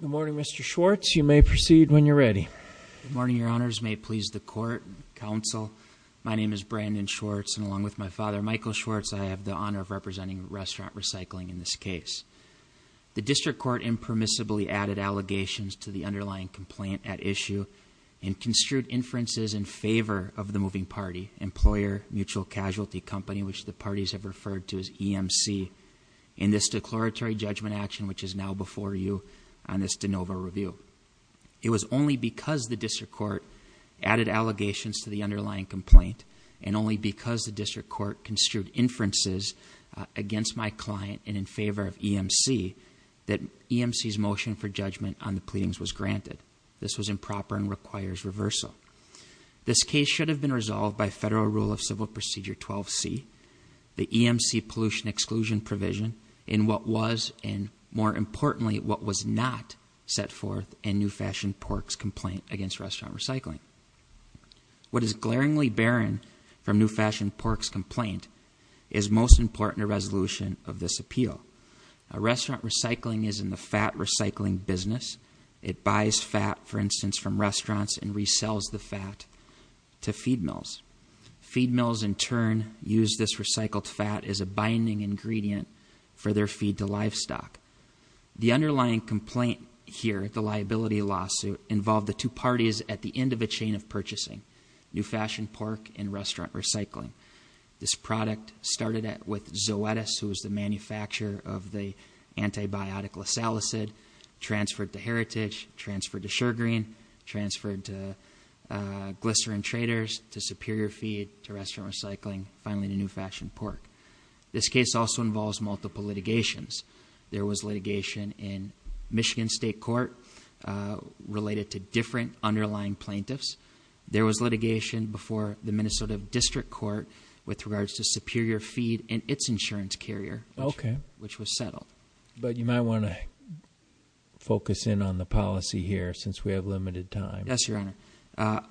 Good morning, Mr. Schwartz. You may proceed when you're ready. Good morning, your honors. May it please the court and council. My name is Brandon Schwartz, and along with my father, Michael Schwartz, I have the honor of representing Restaurant Recycling in this case. The district court impermissibly added allegations to the underlying complaint at issue and construed inferences in favor of the moving party, Employer Mutual Casualty Company, which the parties have referred to as EMC, in this declaratory judgment action, which is now before you on this de novo review. It was only because the district court added allegations to the underlying complaint and only because the district court construed inferences against my client and in favor of EMC, that EMC's motion for judgment on the pleadings was granted. This was improper and requires reversal. This case should have been resolved by federal rule of civil procedure 12C, the EMC pollution exclusion provision in what was and more importantly what was not set forth in New Fashioned Pork's complaint against Restaurant Recycling. What is glaringly barren from New Fashioned Pork's complaint is most important resolution of this appeal. A restaurant recycling is in the fat recycling business. It buys fat, for instance, from restaurants and resells the fat to feed mills. Feed mills, in turn, use this recycled fat as a binding ingredient for their feed to livestock. The underlying complaint here, the liability lawsuit, involved the two parties at the end of a chain of purchasing. New Fashioned Pork and Restaurant Recycling. This product started with Zoetis, who was the manufacturer of the antibiotic Lasalacid, transferred to Heritage, transferred to Shergreen, transferred to Glycerin Traders, to Superior Feed, to Restaurant Recycling, finally to New Fashioned Pork. This case also involves multiple litigations. There was litigation in Michigan State Court related to different underlying plaintiffs. There was litigation before the Minnesota District Court with regards to Superior Feed and its insurance carrier. Okay. Which was settled. But you might want to focus in on the policy here, since we have limited time. Yes, Your Honor.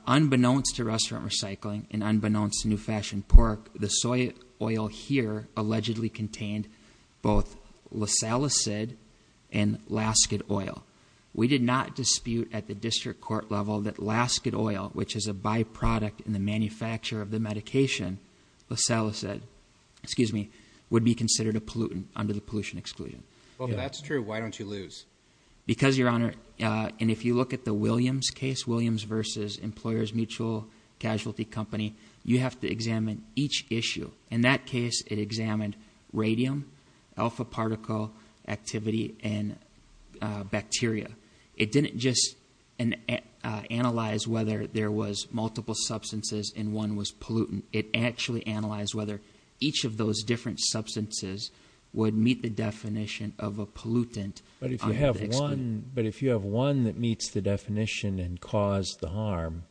Unbeknownst to Restaurant Recycling, and unbeknownst to New Fashioned Pork, the soy oil here allegedly contained both Lasalacid and Lasket oil. We did not dispute at the district court level that Lasket oil, which is a byproduct in the manufacture of the medication, Lasalacid, excuse me, would be considered a pollutant under the pollution exclusion. Well, if that's true, why don't you lose? Because, Your Honor, and if you look at the Williams case, Williams versus Employers Mutual Casualty Company, you have to examine each issue. In that case, it examined radium, alpha particle activity, and bacteria. It didn't just analyze whether there was multiple substances and one was pollutant. It actually analyzed whether each of those different substances would meet the definition of a pollutant. But if you have one that meets the definition and caused the harm,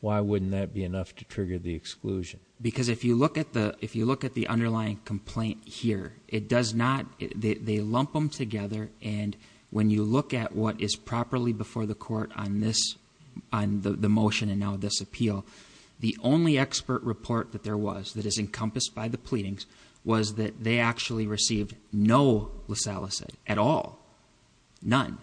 why wouldn't that be enough to trigger the exclusion? Because if you look at the underlying complaint here, it does not, they lump them together. And when you look at what is properly before the court on the motion and now this appeal, the only expert report that there was, that is encompassed by the pleadings, was that they actually received no Lasalacid at all, none.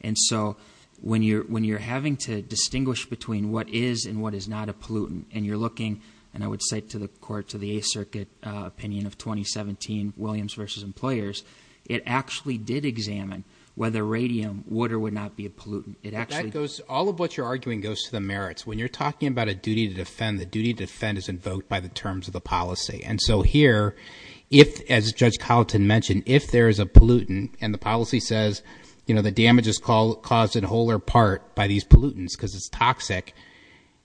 And so when you're having to distinguish between what is and what is not a pollutant, and you're looking, and I would say to the court, to the Eighth Circuit opinion of 2017, Williams versus Employers, it actually did examine whether radium would or would not be a pollutant. It actually- All of what you're arguing goes to the merits. When you're talking about a duty to defend, the duty to defend is invoked by the terms of the policy. And so here, if, as Judge Colleton mentioned, if there is a pollutant and the policy says the damage is caused in whole or part by these pollutants because it's toxic,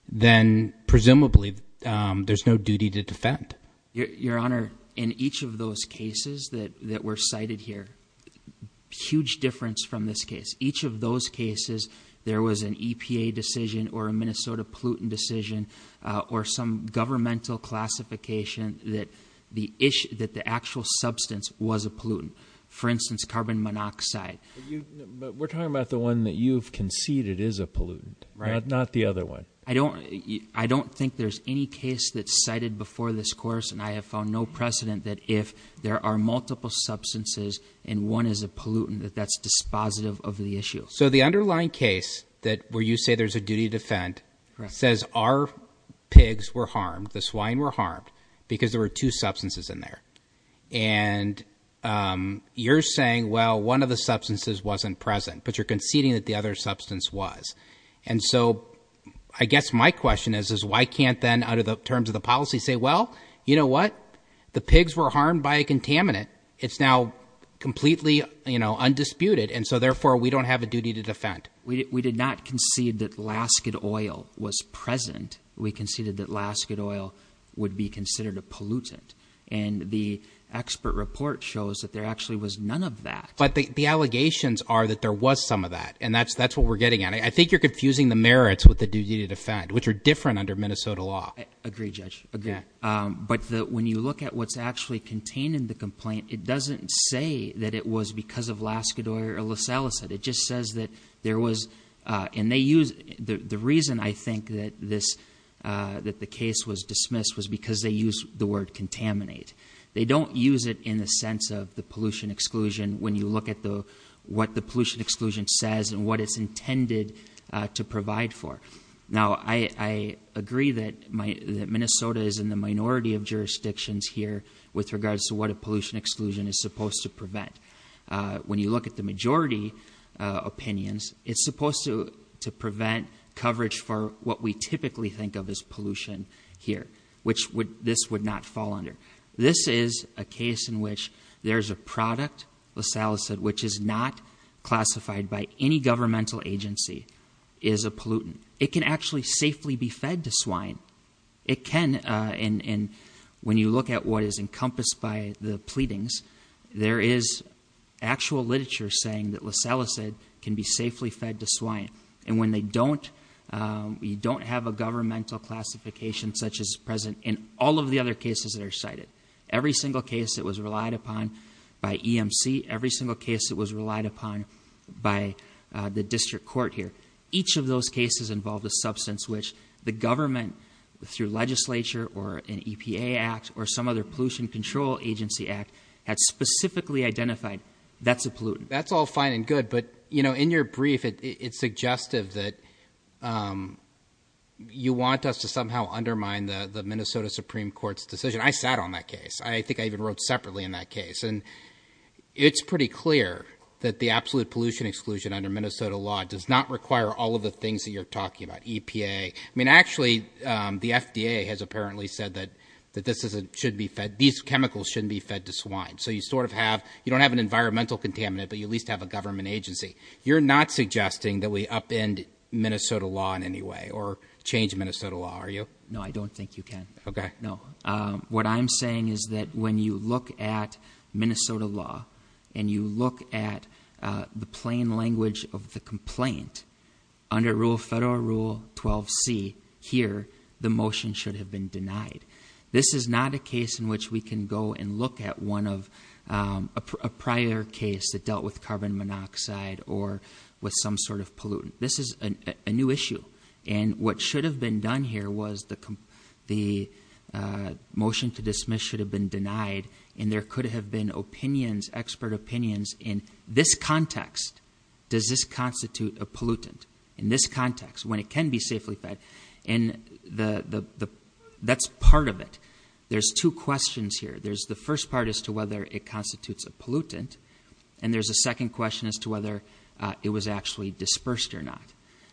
then presumably there's no duty to defend. Your Honor, in each of those cases that were cited here, huge difference from this case. Each of those cases, there was an EPA decision or a Minnesota pollutant decision or some governmental classification that the actual substance was a pollutant. For instance, carbon monoxide. We're talking about the one that you've conceded is a pollutant, not the other one. I don't think there's any case that's cited before this course, and I have found no precedent that if there are multiple substances and one is a pollutant, that that's dispositive of the issue. So the underlying case, where you say there's a duty to defend, says our pigs were harmed, the swine were harmed, because there were two substances in there. And you're saying, well, one of the substances wasn't present, but you're conceding that the other substance was. And so, I guess my question is, is why can't then, out of the terms of the policy, say, well, you know what? The pigs were harmed by a contaminant, it's now completely undisputed, and so therefore, we don't have a duty to defend. We did not concede that Laskin oil was present. We conceded that Laskin oil would be considered a pollutant. And the expert report shows that there actually was none of that. But the allegations are that there was some of that, and that's what we're getting at. I think you're confusing the merits with the duty to defend, which are different under Minnesota law. I agree, Judge, I agree. But when you look at what's actually contained in the complaint, it doesn't say that it was because of Laskin oil or Lysalisate. It just says that there was, and they use, the reason, I think, that the case was dismissed was because they used the word contaminate. They don't use it in the sense of the pollution exclusion when you look at what the pollution exclusion says and what it's intended to provide for. Now, I agree that Minnesota is in the minority of jurisdictions here with regards to what a pollution exclusion is supposed to prevent. When you look at the majority opinions, it's supposed to prevent coverage for what we typically think of as pollution here, which this would not fall under. This is a case in which there's a product, Lysalisate, which is not classified by any governmental agency, is a pollutant. It can actually safely be fed to swine. It can, and when you look at what is encompassed by the pleadings, there is actual literature saying that Lysalisate can be safely fed to swine. And when they don't, you don't have a governmental classification such as present in all of the other cases that are cited. Every single case that was relied upon by EMC, every single case that was relied upon by the district court here. Each of those cases involved a substance which the government, through legislature or an EPA act or some other pollution control agency act, had specifically identified, that's a pollutant. That's all fine and good, but in your brief, it's suggestive that you want us to somehow undermine the Minnesota Supreme Court's decision. I sat on that case. I think I even wrote separately in that case. And it's pretty clear that the absolute pollution exclusion under Minnesota law does not require all of the things that you're talking about, EPA. I mean, actually, the FDA has apparently said that these chemicals shouldn't be fed to swine. So you sort of have, you don't have an environmental contaminant, but you at least have a government agency. You're not suggesting that we upend Minnesota law in any way or change Minnesota law, are you? No, I don't think you can. Okay. What I'm saying is that when you look at Minnesota law and you look at the plain language of the complaint, under Federal Rule 12C here, the motion should have been denied. This is not a case in which we can go and look at one of a prior case that dealt with carbon monoxide or with some sort of pollutant. This is a new issue. And what should have been done here was the motion to dismiss should have been denied. And there could have been opinions, expert opinions, in this context, does this constitute a pollutant? In this context, when it can be safely fed, and that's part of it. There's two questions here. There's the first part as to whether it constitutes a pollutant. And there's a second question as to whether it was actually dispersed or not.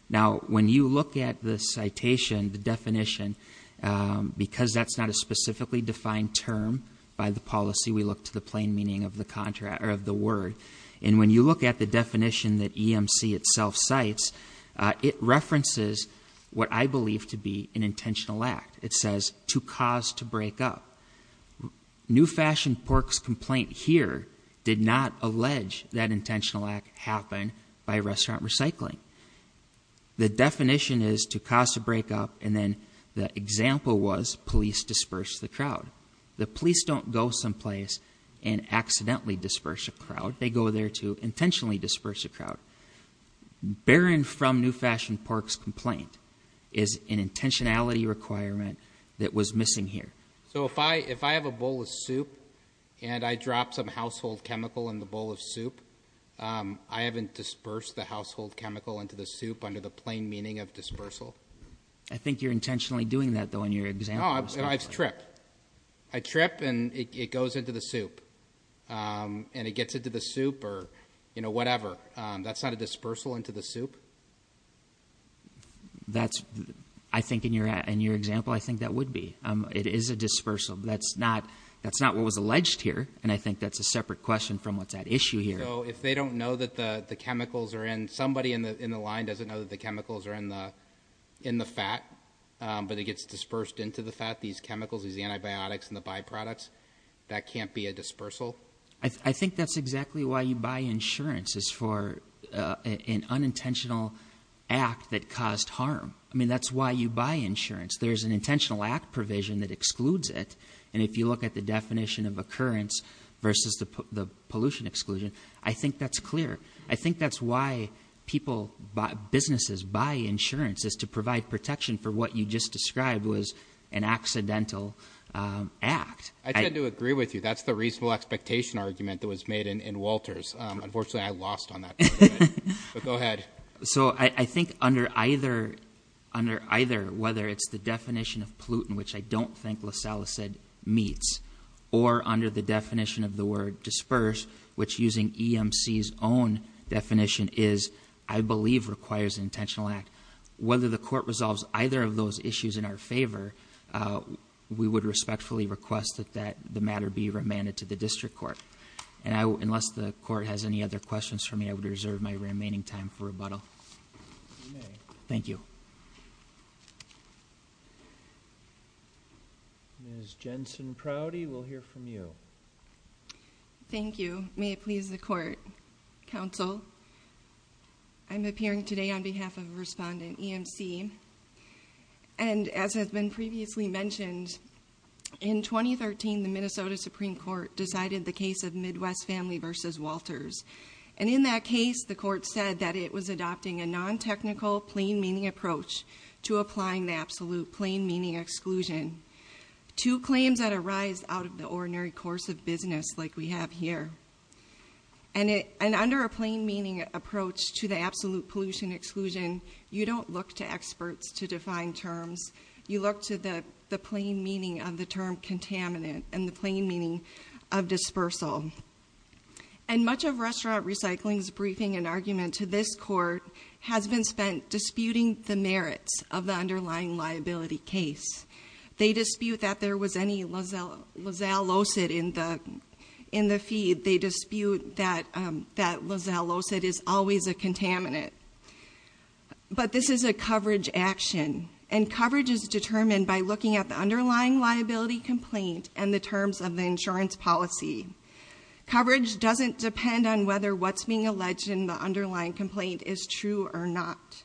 Now, when you look at the citation, the definition, because that's not a specifically defined term by the policy. We look to the plain meaning of the word. And when you look at the definition that EMC itself cites, it references what I believe to be an intentional act. It says, to cause to break up. New Fashioned Pork's complaint here did not allege that intentional act happened by restaurant recycling. The definition is to cause to break up, and then the example was police disperse the crowd. The police don't go someplace and accidentally disperse a crowd. They go there to intentionally disperse a crowd. Bearing from New Fashioned Pork's complaint is an intentionality requirement that was missing here. So if I have a bowl of soup, and I drop some household chemical in the bowl of soup, I haven't dispersed the household chemical into the soup under the plain meaning of dispersal. I think you're intentionally doing that, though, in your example. No, I trip. I trip, and it goes into the soup, and it gets into the soup, or whatever. That's not a dispersal into the soup? That's, I think in your example, I think that would be. It is a dispersal. That's not what was alleged here, and I think that's a separate question from what's at issue here. So if they don't know that the chemicals are in, somebody in the line doesn't know that the chemicals are in the fat. But it gets dispersed into the fat, these chemicals, these antibiotics, and the byproducts. That can't be a dispersal? I think that's exactly why you buy insurance, is for an unintentional act that caused harm. I mean, that's why you buy insurance. There's an intentional act provision that excludes it. And if you look at the definition of occurrence versus the pollution exclusion, I think that's clear. I think that's why people, businesses buy insurance, is to provide protection for what you just described was an accidental act. I tend to agree with you. That's the reasonable expectation argument that was made in Walters. Unfortunately, I lost on that part of it, but go ahead. So I think under either, whether it's the definition of pollutant, which I don't think LaSalle said meets, or under the definition of the word disperse, which using EMC's own definition is, I believe, requires intentional act. Whether the court resolves either of those issues in our favor, we would respectfully request that the matter be remanded to the district court. And unless the court has any other questions for me, I would reserve my remaining time for rebuttal. Thank you. Ms. Jensen-Prouty, we'll hear from you. Thank you. May it please the court. Counsel, I'm appearing today on behalf of a respondent, EMC. And as has been previously mentioned, in 2013, the Minnesota Supreme Court decided the case of Midwest Family versus Walters. And in that case, the court said that it was adopting a non-technical, plain meaning approach to applying the absolute plain meaning exclusion. Two claims that arise out of the ordinary course of business like we have here. And under a plain meaning approach to the absolute pollution exclusion, you don't look to experts to define terms. You look to the plain meaning of the term contaminant and the plain meaning of dispersal. And much of Restaurant Recycling's briefing and argument to this court has been spent disputing the merits of the underlying liability case. They dispute that there was any lozellocid in the feed. They dispute that lozellocid is always a contaminant. But this is a coverage action. And coverage is determined by looking at the underlying liability complaint and the terms of the insurance policy. Coverage doesn't depend on whether what's being alleged in the underlying complaint is true or not.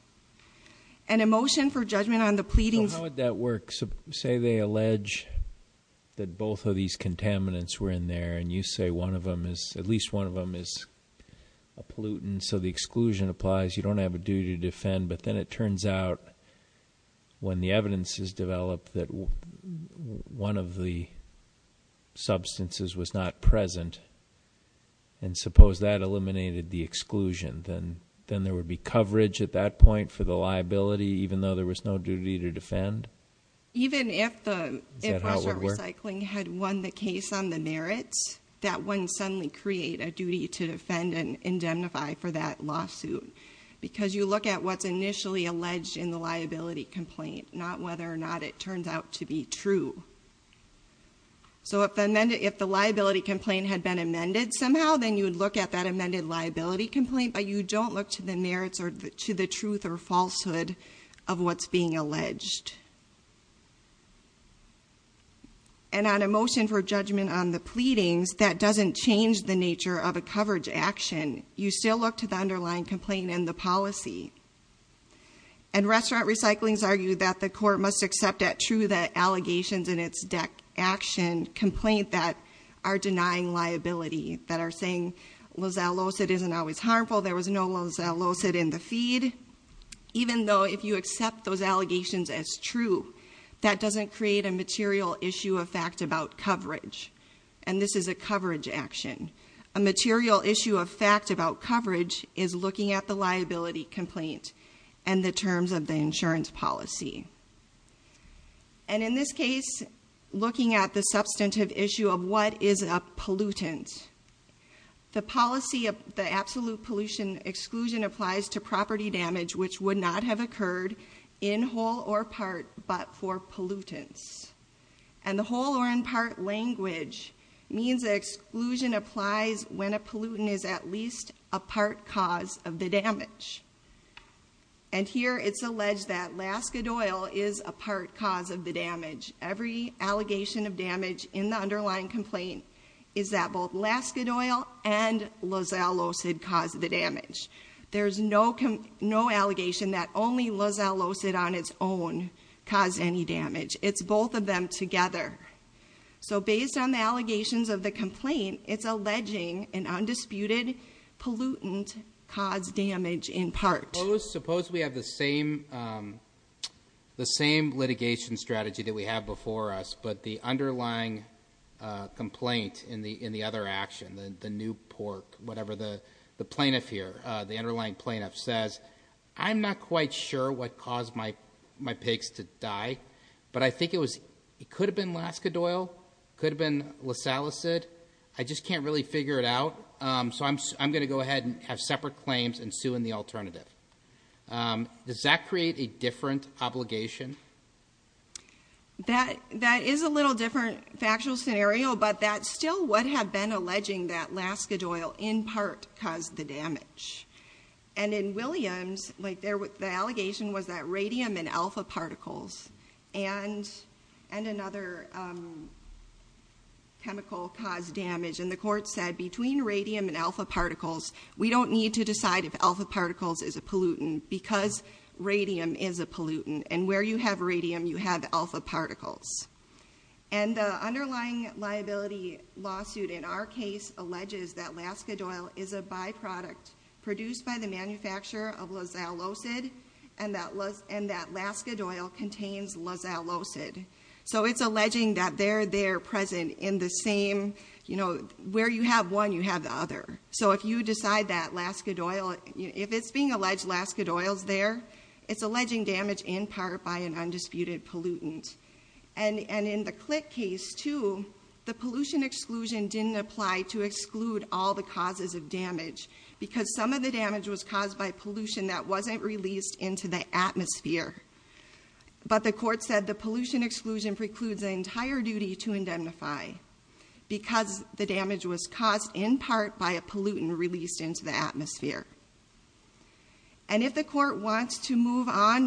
And a motion for judgment on the pleadings- How would that work? Say they allege that both of these contaminants were in there, and you say at least one of them is a pollutant, so the exclusion applies. You don't have a duty to defend, but then it turns out when the evidence is developed that one of the substances was not present, and suppose that eliminated the exclusion, then there would be coverage at that point for the liability, even though there was no duty to defend? Even if the- Is that how it would work? If the recycling had won the case on the merits, that wouldn't suddenly create a duty to defend and indemnify for that lawsuit. Because you look at what's initially alleged in the liability complaint, not whether or not it turns out to be true. So if the liability complaint had been amended somehow, then you would look at that amended liability complaint. But you don't look to the merits or to the truth or falsehood of what's being alleged. And on a motion for judgment on the pleadings, that doesn't change the nature of a coverage action. You still look to the underlying complaint and the policy. And restaurant recyclings argue that the court must accept that true, that allegations in its deck action complaint that are denying liability, that are saying, well, that lawsuit isn't always harmful. There was no lawsuit in the feed. Even though if you accept those allegations as true, that doesn't create a material issue of fact about coverage. And this is a coverage action. A material issue of fact about coverage is looking at the liability complaint and the terms of the insurance policy. And in this case, looking at the substantive issue of what is a pollutant. The policy of the absolute pollution exclusion applies to property damage which would not have occurred in whole or part, but for pollutants. And the whole or in part language means that exclusion applies when a pollutant is at least a part cause of the damage. And here it's alleged that Laska Doyle is a part cause of the damage. Every allegation of damage in the underlying complaint is that both Laska Doyle and Lozell Lozad caused the damage. There's no allegation that only Lozell Lozad on its own caused any damage. It's both of them together. So based on the allegations of the complaint, it's alleging an undisputed pollutant caused damage in part. Suppose we have the same litigation strategy that we have before us, but the underlying complaint in the other action, the new pork, whatever the plaintiff here, the underlying plaintiff says, I'm not quite sure what caused my pigs to die. But I think it could have been Laska Doyle, could have been Lozell Lozad. I just can't really figure it out. So I'm going to go ahead and have separate claims and sue in the alternative. Does that create a different obligation? That is a little different factual scenario, but that still would have been alleging that Laska Doyle in part caused the damage. And in Williams, the allegation was that radium and alpha particles and another chemical caused damage. And the court said, between radium and alpha particles, we don't need to decide if alpha particles is a pollutant, because radium is a pollutant, and where you have radium, you have alpha particles. And the underlying liability lawsuit in our case alleges that Laska Doyle is a byproduct produced by the manufacturer of Lozell Lozad, and that Laska Doyle contains Lozell Lozad. So it's alleging that they're there present in the same, where you have one, you have the other. So if you decide that Laska Doyle, if it's being alleged Laska Doyle's there, it's alleging damage in part by an undisputed pollutant. And in the Click case too, the pollution exclusion didn't apply to exclude all the causes of damage. Because some of the damage was caused by pollution that wasn't released into the atmosphere. But the court said the pollution exclusion precludes the entire duty to indemnify. Because the damage was caused in part by a pollutant released into the atmosphere. And if the court wants to move on,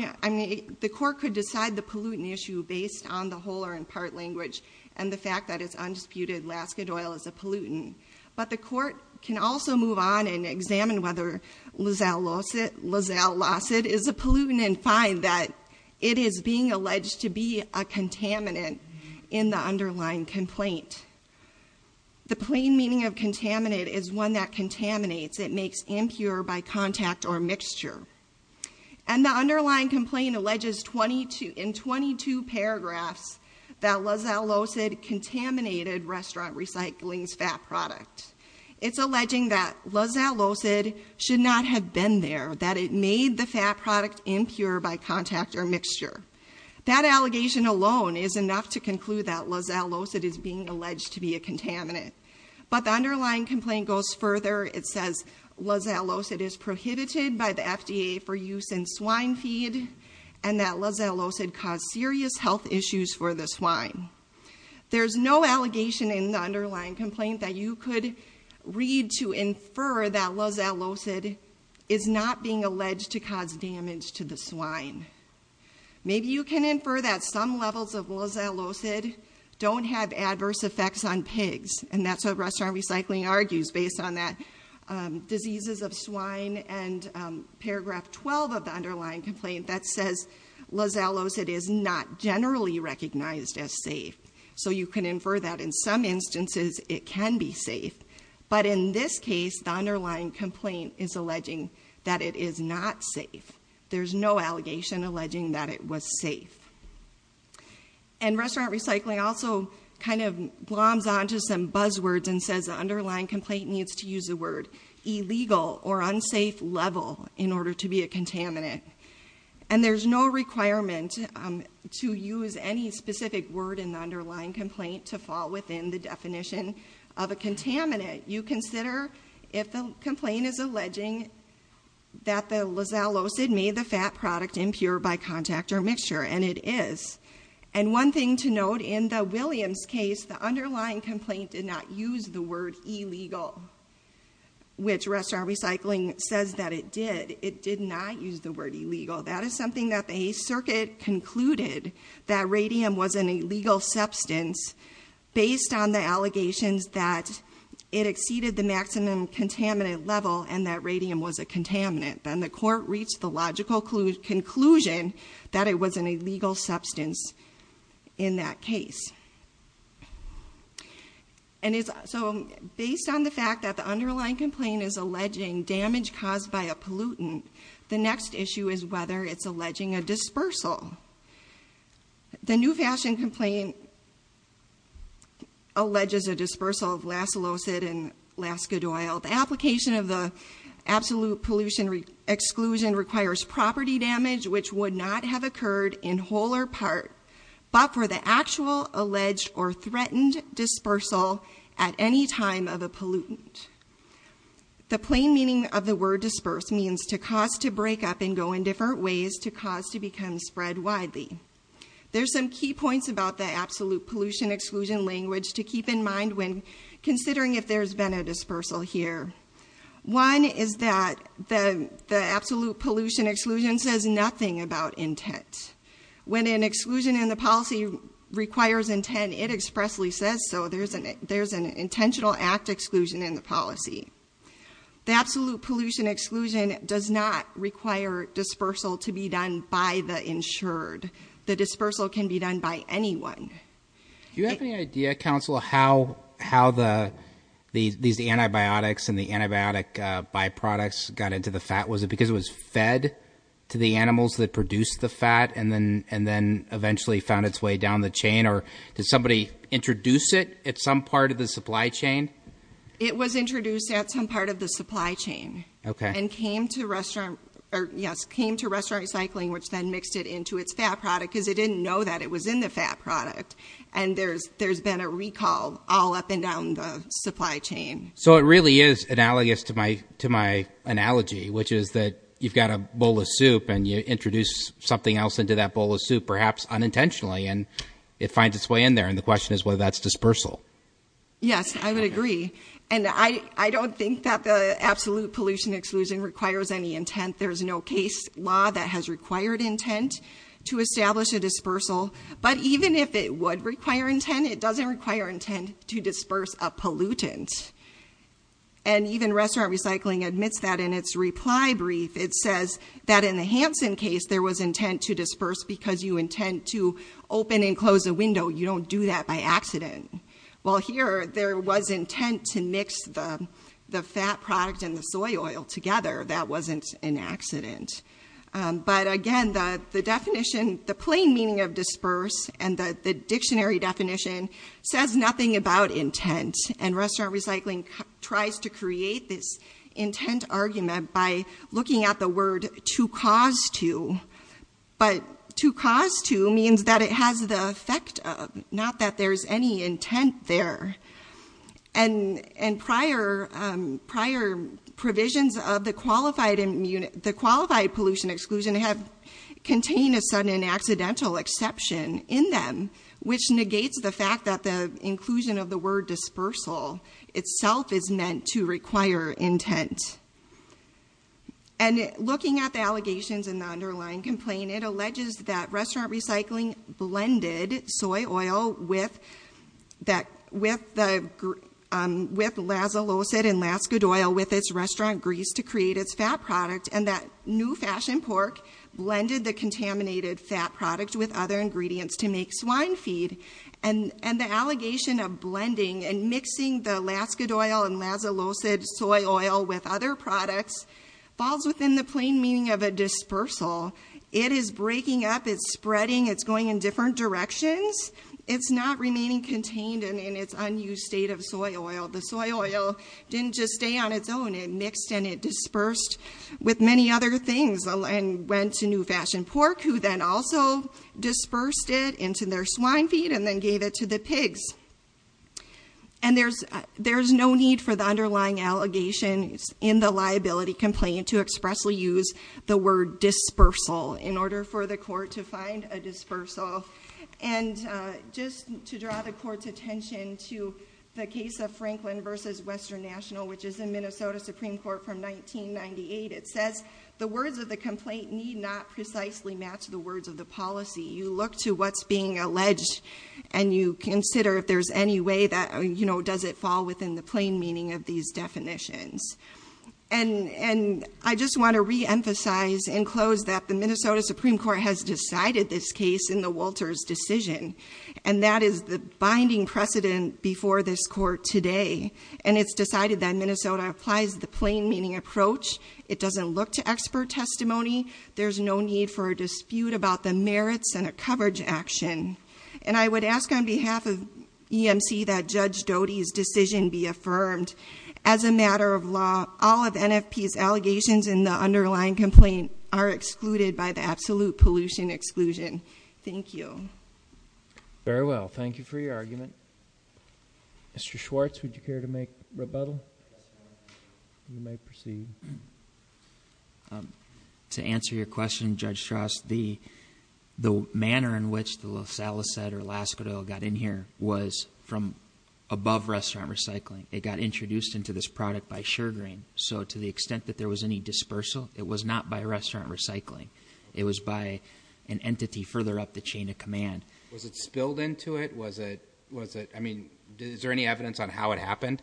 the court could decide the pollutant issue based on the whole or in part language and the fact that it's undisputed Laska Doyle is a pollutant. But the court can also move on and examine whether Lozell Lozad is a pollutant and decide that it is being alleged to be a contaminant in the underlying complaint. The plain meaning of contaminate is one that contaminates, it makes impure by contact or mixture. And the underlying complaint alleges in 22 paragraphs that Lozell Lozad contaminated Restaurant Recycling's fat product. It's alleging that Lozell Lozad should not have been there, that it made the fat product impure by contact or mixture. That allegation alone is enough to conclude that Lozell Lozad is being alleged to be a contaminant. But the underlying complaint goes further, it says Lozell Lozad is prohibited by the FDA for use in swine feed and that Lozell Lozad caused serious health issues for the swine. There's no allegation in the underlying complaint that you could read to infer that Lozell Lozad is not being alleged to cause damage to the swine. Maybe you can infer that some levels of Lozell Lozad don't have adverse effects on pigs. And that's what Restaurant Recycling argues based on that diseases of swine and paragraph 12 of the underlying complaint that says Lozell Lozad is not generally recognized as safe. So you can infer that in some instances it can be safe. But in this case, the underlying complaint is alleging that it is not safe. There's no allegation alleging that it was safe. And Restaurant Recycling also kind of gloms on to some buzzwords and says the underlying complaint needs to use the word illegal or unsafe level in order to be a contaminant. And there's no requirement to use any specific word in the underlying complaint to fall within the definition of a contaminant. You consider if the complaint is alleging that the Lozell Lozad made the fat product impure by contact or mixture, and it is. And one thing to note, in the Williams case, the underlying complaint did not use the word illegal, which Restaurant Recycling says that it did, it did not use the word illegal. That is something that the A circuit concluded that radium was an illegal substance based on the allegations that it exceeded the maximum contaminant level and that radium was a contaminant. Then the court reached the logical conclusion that it was an illegal substance in that case. And so based on the fact that the underlying complaint is alleging damage caused by a pollutant, the next issue is whether it's alleging a dispersal. The new fashion complaint alleges a dispersal of Lasso Lozad and Laska Doyle. The application of the absolute pollution exclusion requires property damage, which would not have occurred in whole or part, but for the actual alleged or threatened dispersal at any time of a pollutant. The plain meaning of the word disperse means to cause to break up and go in different ways to cause to become spread widely. There's some key points about the absolute pollution exclusion language to keep in mind when considering if there's been a dispersal here. One is that the absolute pollution exclusion says nothing about intent. When an exclusion in the policy requires intent, it expressly says so. There's an intentional act exclusion in the policy. The absolute pollution exclusion does not require dispersal to be done by the insured. The dispersal can be done by anyone. Do you have any idea, counsel, how these antibiotics and the antibiotic byproducts got into the fat? Was it because it was fed to the animals that produced the fat and then eventually found its way down the chain? Or did somebody introduce it at some part of the supply chain? It was introduced at some part of the supply chain. Okay. And came to restaurant, or yes, came to restaurant recycling, which then mixed it into its fat product because it didn't know that it was in the fat product. And there's been a recall all up and down the supply chain. So it really is analogous to my analogy, which is that you've got a bowl of soup and you introduce something else into that bowl of soup, perhaps unintentionally. And it finds its way in there, and the question is whether that's dispersal. Yes, I would agree. And I don't think that the absolute pollution exclusion requires any intent. There's no case law that has required intent to establish a dispersal. But even if it would require intent, it doesn't require intent to disperse a pollutant. And even restaurant recycling admits that in its reply brief. It says that in the Hansen case, there was intent to disperse because you intend to open and close a window. You don't do that by accident. While here, there was intent to mix the fat product and the soy oil together. That wasn't an accident. But again, the plain meaning of disperse and the dictionary definition says nothing about intent. And restaurant recycling tries to create this intent argument by looking at the word to cause to. But to cause to means that it has the effect of, not that there's any intent there. And prior provisions of the qualified pollution exclusion have contained a sudden and accidental exception in them. Which negates the fact that the inclusion of the word dispersal itself is meant to require intent. And looking at the allegations in the underlying complaint, it alleges that restaurant recycling blended soy oil with Lazalosid and Laskadoil with its restaurant grease to create its fat product. And that new fashion pork blended the contaminated fat product with other ingredients to make swine feed. And the allegation of blending and mixing the Laskadoil and Lazalosid soy oil with other products falls within the plain meaning of a dispersal. It is breaking up, it's spreading, it's going in different directions. It's not remaining contained in its unused state of soy oil. The soy oil didn't just stay on its own. It mixed and it dispersed with many other things and went to New Fashioned Pork, who then also dispersed it into their swine feed and then gave it to the pigs. And there's no need for the underlying allegations in the liability complaint to expressly use the word dispersal in order for the court to find a dispersal. And just to draw the court's attention to the case of Franklin versus Western National, which is in Minnesota Supreme Court from 1998, it says the words of the complaint need not precisely match the words of the policy. You look to what's being alleged and you consider if there's any way that, you know, does it fall within the plain meaning of these definitions. And I just want to reemphasize and close that the Minnesota Supreme Court has made an unanswered decision, and that is the binding precedent before this court today. And it's decided that Minnesota applies the plain meaning approach. It doesn't look to expert testimony. There's no need for a dispute about the merits and a coverage action. And I would ask on behalf of EMC that Judge Doty's decision be affirmed. As a matter of law, all of NFP's allegations in the underlying complaint are excluded by the absolute pollution exclusion. Thank you. Very well, thank you for your argument. Mr. Schwartz, would you care to make rebuttal? You may proceed. To answer your question, Judge Strauss, the manner in which the Losalicet or Laskadole got in here was from above restaurant recycling. It got introduced into this product by Sugaring. So to the extent that there was any dispersal, it was not by restaurant recycling. It was by an entity further up the chain of command. Was it spilled into it? Was it, I mean, is there any evidence on how it happened?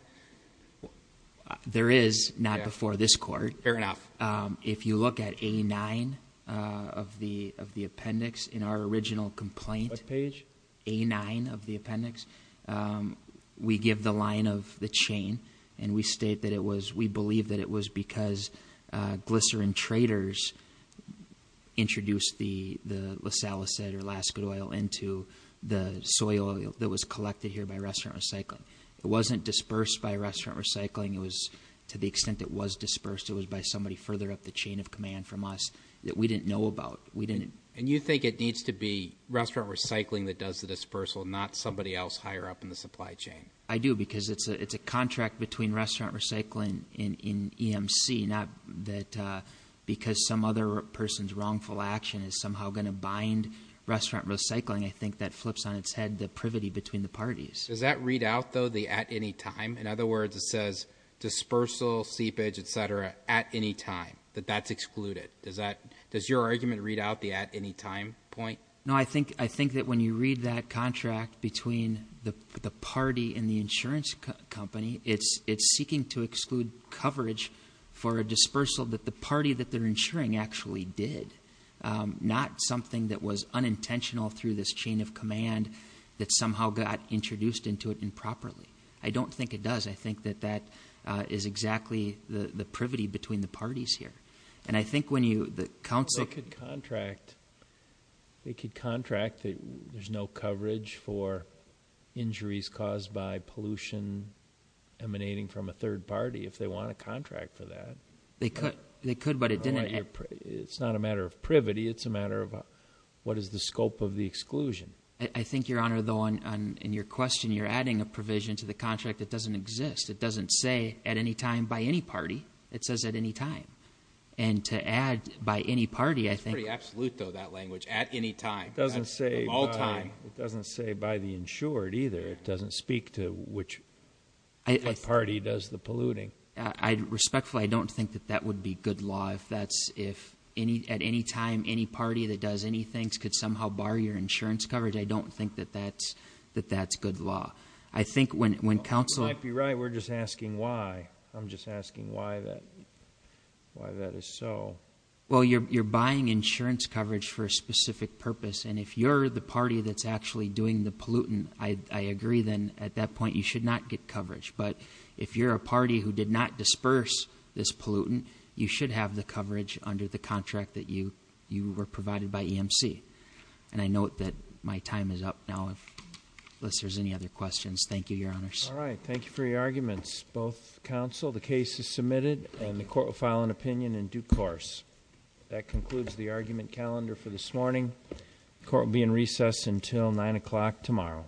There is, not before this court. Fair enough. If you look at A9 of the appendix in our original complaint. What page? A9 of the appendix. We give the line of the chain, and we state that it was, we believe that it was because glycerin traders introduced the Losalicet or Laskadole into the soil that was collected here by restaurant recycling. It wasn't dispersed by restaurant recycling. It was, to the extent it was dispersed, it was by somebody further up the chain of command from us that we didn't know about. We didn't- And you think it needs to be restaurant recycling that does the dispersal, not somebody else higher up in the supply chain? I do, because it's a contract between restaurant recycling and someone's wrongful action is somehow going to bind restaurant recycling. I think that flips on its head the privity between the parties. Does that read out, though, the at any time? In other words, it says dispersal, seepage, etc., at any time, that that's excluded. Does your argument read out the at any time point? No, I think that when you read that contract between the party and the insurance company, it's seeking to exclude coverage for a dispersal that the party that they're insuring actually did, not something that was unintentional through this chain of command that somehow got introduced into it improperly. I don't think it does. I think that that is exactly the privity between the parties here. And I think when you, the council- They could contract that there's no coverage for injuries caused by pollution emanating from a third party, if they want a contract for that. They could, but it didn't- It's not a matter of privity, it's a matter of what is the scope of the exclusion? I think, Your Honor, though, in your question, you're adding a provision to the contract that doesn't exist. It doesn't say at any time by any party. It says at any time. And to add by any party, I think- It's pretty absolute, though, that language, at any time. Doesn't say- Of all time. It doesn't say by the insured, either. It doesn't speak to which party does the polluting. I respectfully, I don't think that that would be good law if that's, if at any time, any party that does any things could somehow bar your insurance coverage, I don't think that that's good law. I think when council- You might be right, we're just asking why. I'm just asking why that is so. Well, you're buying insurance coverage for a specific purpose. And if you're the party that's actually doing the pollutant, I agree then at that point you should not get coverage. But if you're a party who did not disperse this pollutant, you should have the coverage under the contract that you were provided by EMC. And I note that my time is up now, unless there's any other questions. Thank you, Your Honors. All right, thank you for your arguments. Both counsel, the case is submitted and the court will file an opinion in due course. That concludes the argument calendar for this morning. Court will be in recess until 9 o'clock tomorrow.